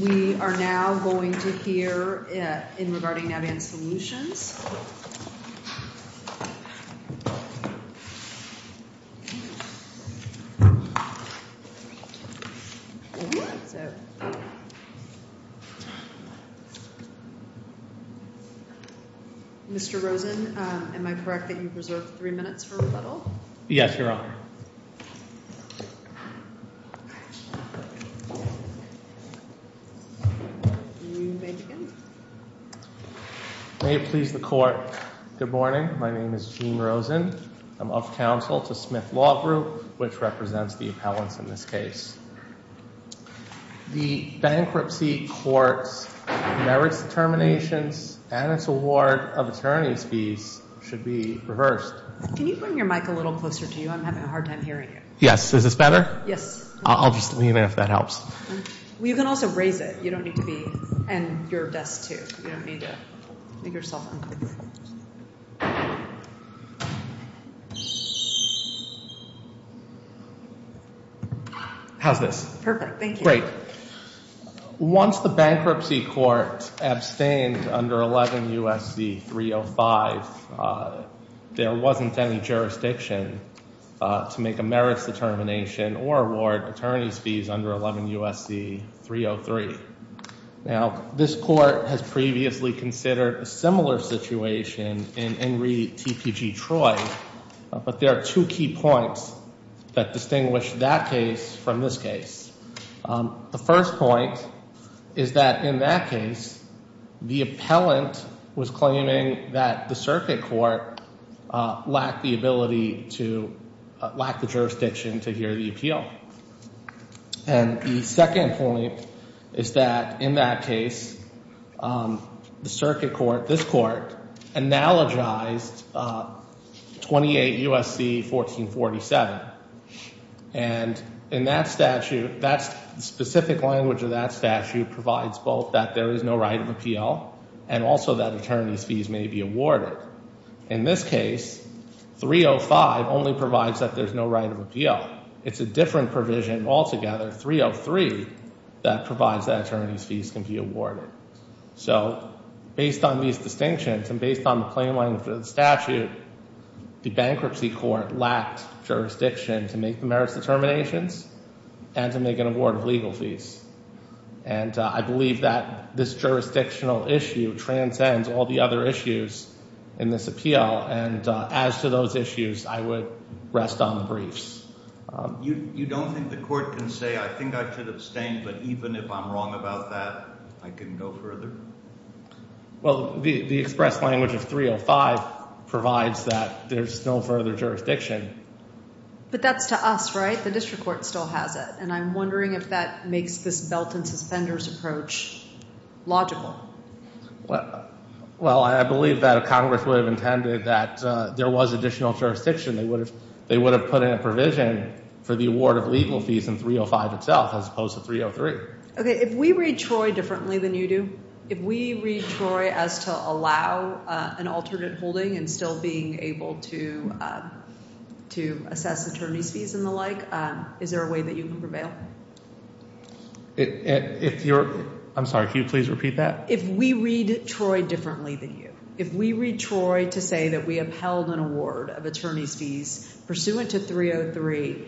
We are now going to hear in regarding Navient Solutions. Mr. Rosen, am I correct that you preserved three minutes for rebuttal? Yes, Your Honor. You may begin. May it please the Court, good morning. My name is Gene Rosen. I'm of counsel to Smith Law Group, which represents the appellants in this case. The bankruptcy court's merits determinations and its award of attorney's fees should be reversed. Can you bring your mic a little closer to you? I'm having a hard time hearing you. Yes, is this better? Yes. I'll just leave it if that helps. You can also raise it. You don't need to be, and your desk, too. You don't need to make yourself uncomfortable. How's this? Perfect, thank you. Great. Once the bankruptcy court abstained under 11 U.S.C. 305, there wasn't any jurisdiction to make a merits determination or award attorney's fees under 11 U.S.C. 303. Now, this court has previously considered a similar situation in Henry T.P.G. Troy, but there are two key points that distinguish that case from this case. The first point is that in that case, the appellant was claiming that the circuit court lacked the ability to, lacked the jurisdiction to hear the appeal. And the second point is that in that case, the circuit court, this court, analogized 28 U.S.C. 1447. And in that statute, that specific language of that statute provides both that there is no right of appeal and also that attorney's fees may be awarded. In this case, 305 only provides that there's no right of appeal. It's a different provision altogether, 303, that provides that attorney's fees can be awarded. So based on these distinctions and based on the plain language of the statute, the bankruptcy court lacked jurisdiction to make the merits determinations and to make an award of legal fees. And I believe that this jurisdictional issue transcends all the other issues in this appeal. And as to those issues, I would rest on the briefs. You don't think the court can say, I think I should abstain, but even if I'm wrong about that, I can go further? Well, the express language of 305 provides that there's no further jurisdiction. But that's to us, right? The district court still has it. And I'm wondering if that makes this belt and suspenders approach logical. Well, I believe that Congress would have intended that there was additional jurisdiction. They would have put in a provision for the award of legal fees in 305 itself, as opposed to 303. OK, if we read Troy differently than you do, if we read Troy as to allow an alternate holding and still being able to assess attorney's fees and the like, is there a way that you can prevail? If you're, I'm sorry, can you please repeat that? If we read Troy differently than you, if we read Troy to say that we upheld an award of attorney's fees pursuant to 303,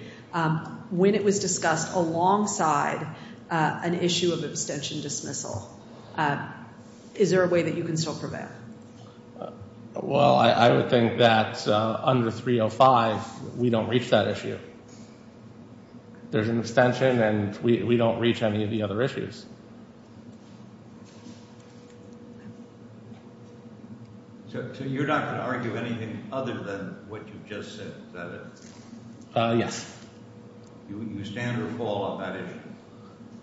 when it was discussed alongside an issue of abstention dismissal, is there a way that you can still prevail? Well, I would think that under 305, we don't reach that issue. There's an extension, and we don't reach any of the other issues. So you're not going to argue anything other than what you've just said, is that it? Yes. You stand or fall on that issue?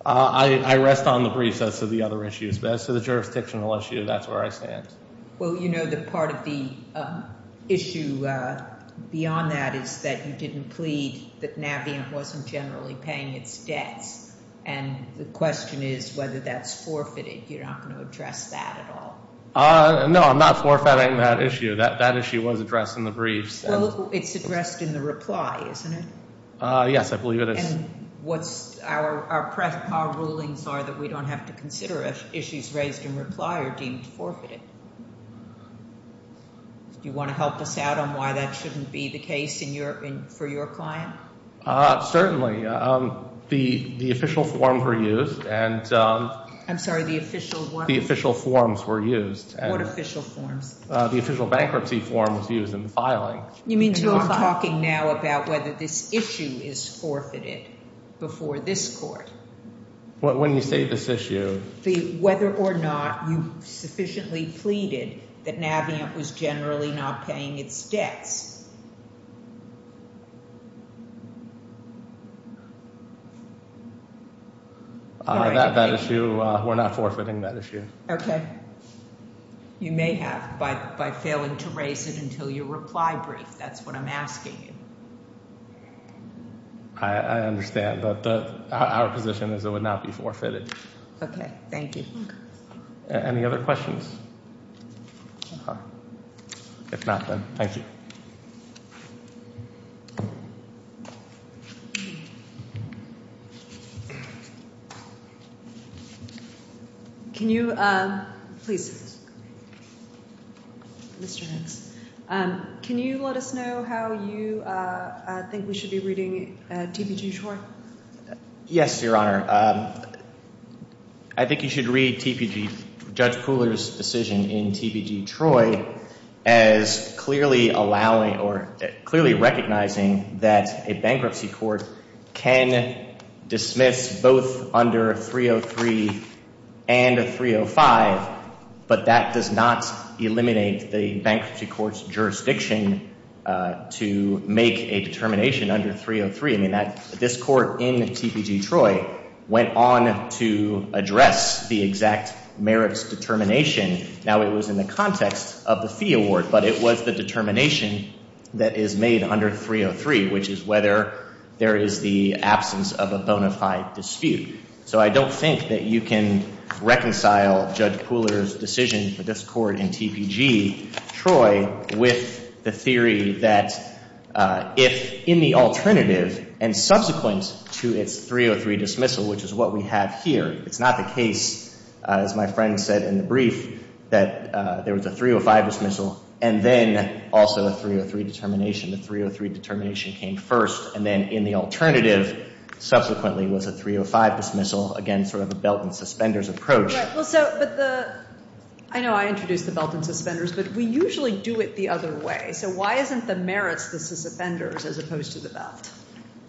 I rest on the briefs as to the other issues. But as to the jurisdictional issue, that's where I stand. Well, you know that part of the issue beyond that is that you didn't plead that Navient wasn't generally paying its debts. And the question is whether that's forfeited. You're not going to address that at all? No, I'm not forfeiting that issue. That issue was addressed in the briefs. It's addressed in the reply, isn't it? Yes, I believe it is. What's our rulings are that we don't have to consider if issues raised in reply are deemed forfeited? Do you want to help us out on why that shouldn't be the case for your client? Certainly. The official forms were used. I'm sorry, the official what? The official forms were used. What official forms? The official bankruptcy form was used in the filing. You mean till I'm talking now about whether this issue is forfeited before this court? Well, when you say this issue. Whether or not you sufficiently pleaded that Navient was generally not paying its debts. That issue, we're not forfeiting that issue. OK. You may have by failing to raise it until your reply brief. That's what I'm asking you. I understand, but our position is it would not be forfeited. OK, thank you. Any other questions? If not, then thank you. Can you please, Mr. Hicks, can you let us know how you think we should be reading TBG Shore? Yes, Your Honor. I think you should read TBG, Judge Pooler's decision in TBG Troy as clearly allowing or clearly recognizing that a bankruptcy court can dismiss both under 303 and 305, but that does not eliminate the bankruptcy court's jurisdiction to make a determination under 303. This court in TBG Troy went on to address the exact merits determination. Now, it was in the context of the fee award, but it was the determination that is made under 303, which is whether there is the absence of a bona fide dispute. So I don't think that you can reconcile Judge Pooler's decision for this court in TBG Troy with the theory that if in the alternative and subsequent to its 303 dismissal, which is what we have here, it's not the case, as my friend said in the brief, that there was a 305 dismissal and then also a 303 determination. The 303 determination came first, and then in the alternative, subsequently, was a 305 dismissal, again, sort of a belt and suspenders approach. I know I introduced the belt and suspenders, but we usually do it the other way. So why isn't the merits the suspenders, as opposed to the belt?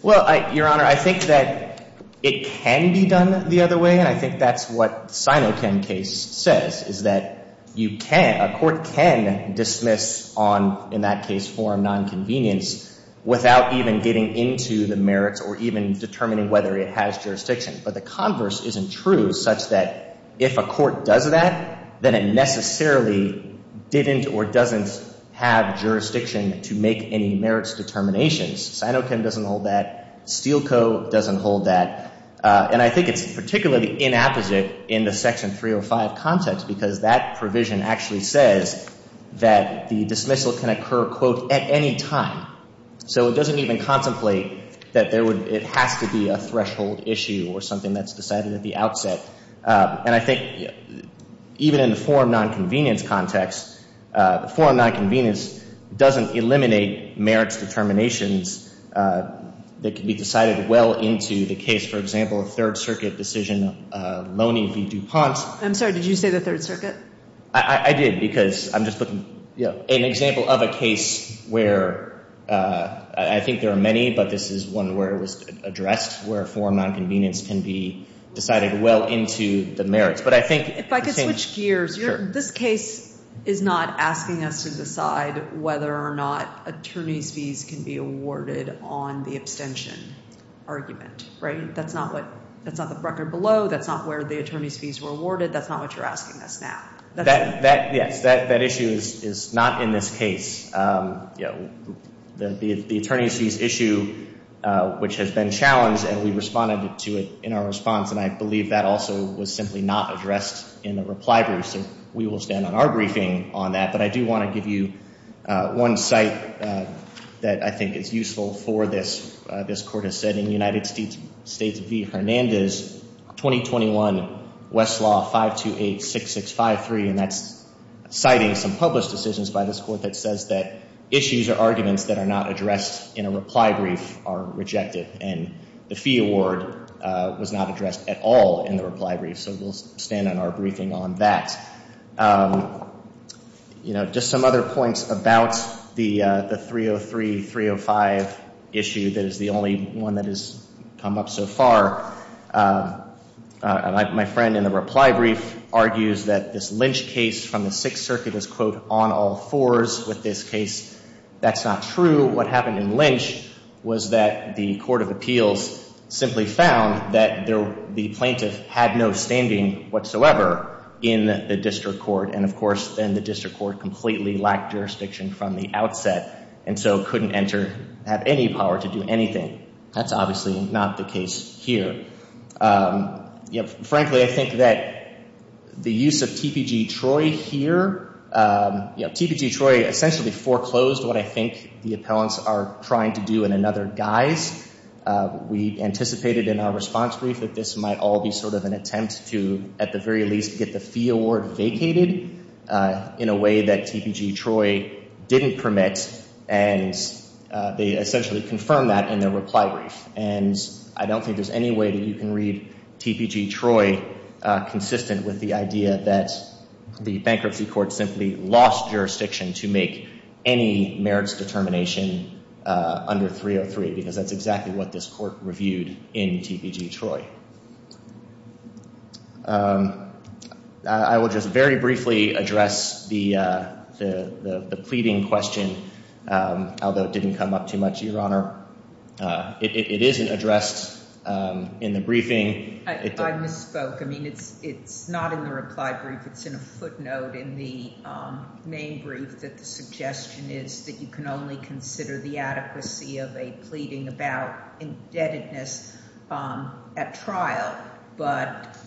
Well, Your Honor, I think that it can be done the other way, and I think that's what the Sinokin case says, is that a court can dismiss on, in that case, forum nonconvenience without even getting into the merits or even determining whether it has jurisdiction. But the converse isn't true such that if a court does that, then it necessarily didn't or doesn't have jurisdiction to make any merits determinations. Sinokin doesn't hold that. Steele Co. doesn't hold that. And I think it's particularly inapposite in the Section 305 context, because that provision actually says that the dismissal can occur, quote, at any time. So it doesn't even contemplate that it has to be a threshold issue or something that's decided at the outset. And I think even in the forum nonconvenience context, forum nonconvenience doesn't eliminate merits determinations that can be decided well into the case, for example, a Third Circuit decision of Loney v. DuPont. I'm sorry, did you say the Third Circuit? I did, because I'm just looking. An example of a case where, I think there are many, but this is one where it was addressed, where forum nonconvenience can be decided well into the merits. But I think it's changed. If I could switch gears, this case is not asking us to decide whether or not attorney's fees can be awarded on the abstention argument. That's not the record below. That's not where the attorney's fees were awarded. That's not what you're asking us now. Yes, that issue is not in this case. The attorney's fees issue, which has been challenged, and we responded to it in our response, and I believe that also was simply not addressed in the reply brief. So we will stand on our briefing on that. But I do want to give you one site that I think is useful for this. This court has said in United States v. Hernandez, 2021 Westlaw 5286653, and that's citing some published decisions by this court that says that issues or arguments that are not addressed in a reply brief are rejected. And the fee award was not addressed at all in the reply brief. So we'll stand on our briefing on that. Just some other points about the 303, 305 issue that is the only one that has come up so far. My friend in the reply brief argues that this Lynch case from the Sixth Circuit is, quote, on all fours with this case. That's not true. What happened in Lynch was that the court of appeals simply found that the plaintiff had no standing whatsoever in the district court. And of course, then the district court completely lacked jurisdiction from the outset, and so couldn't enter, have any power to do anything. That's obviously not the case here. Frankly, I think that the use of TPG Troy here, TPG Troy essentially foreclosed what I think the appellants are trying to do in another guise. We anticipated in our response brief that this might all be sort of an attempt to, at the very least, get the fee award vacated in a way that TPG Troy didn't permit. And they essentially confirmed that in their reply brief. And I don't think there's any way that you can read TPG Troy consistent with the idea that the bankruptcy court simply lost jurisdiction to make any merits determination under 303, because that's exactly what this court reviewed in TPG Troy. I will just very briefly address the pleading question, although it didn't come up too much, Your Honor. It isn't addressed in the briefing. I misspoke. I mean, it's not in the reply brief. It's in a footnote in the main brief that the suggestion is that you can only consider the adequacy of a pleading about indebtedness at trial. But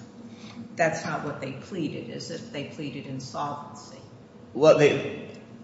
that's not what they pleaded, is it? They pleaded insolvency. Well,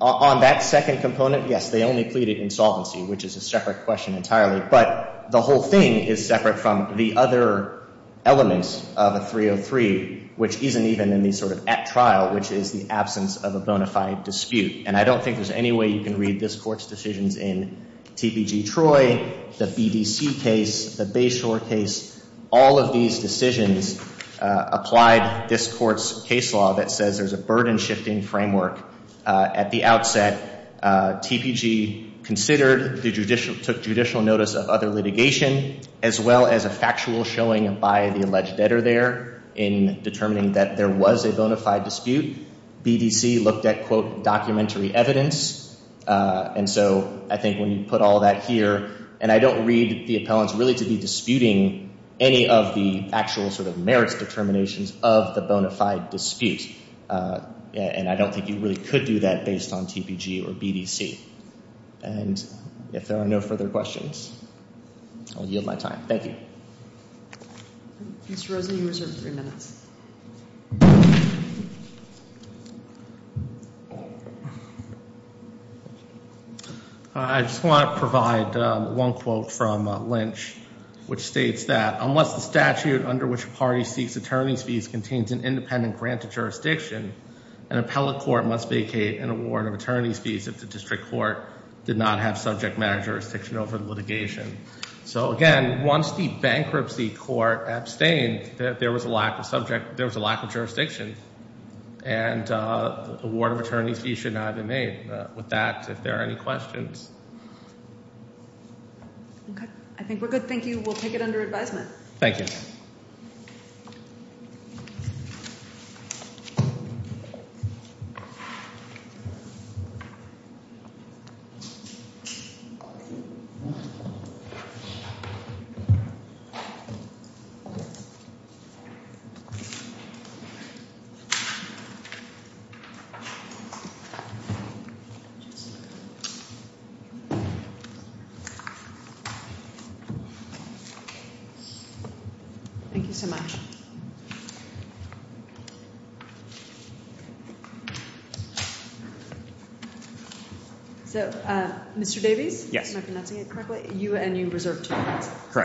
on that second component, yes, they only pleaded insolvency, which is a separate question entirely. But the whole thing is separate from the other elements of a 303, which isn't even in the sort of at trial, which is the absence of a bona fide dispute. And I don't think there's any way you can read this court's decisions in TPG Troy, the BDC case, the Bayshore case. All of these decisions applied this court's case law that says there's a burden shifting framework. At the outset, TPG considered, took judicial notice of other litigation, as well as a factual showing by the alleged debtor there in determining that there was a bona fide dispute. BDC looked at, quote, documentary evidence. And so I think when you put all that here, and I don't read the appellants really to be disputing any of the actual sort of merits determinations of the bona fide dispute. And I don't think you really could do that based on TPG or BDC. And if there are no further questions, I'll yield my time. Thank you. Mr. Rosen, you reserve three minutes. I just want to provide one quote from Lynch, which states that, unless the statute under which a party seeks attorney's fees contains an independent grant of jurisdiction, an appellate court must vacate an award of attorney's fees over the litigation. So again, once the bankruptcy court abstained, there was a lack of jurisdiction. And the award of attorney's fees should not have been made. With that, if there are any questions. OK. I think we're good. Thank you. We'll take it under advisement. Thank you. Thank you. Thank you so much. So Mr. Davies? Yes. Am I pronouncing it correctly? You and you reserve two minutes. Correct.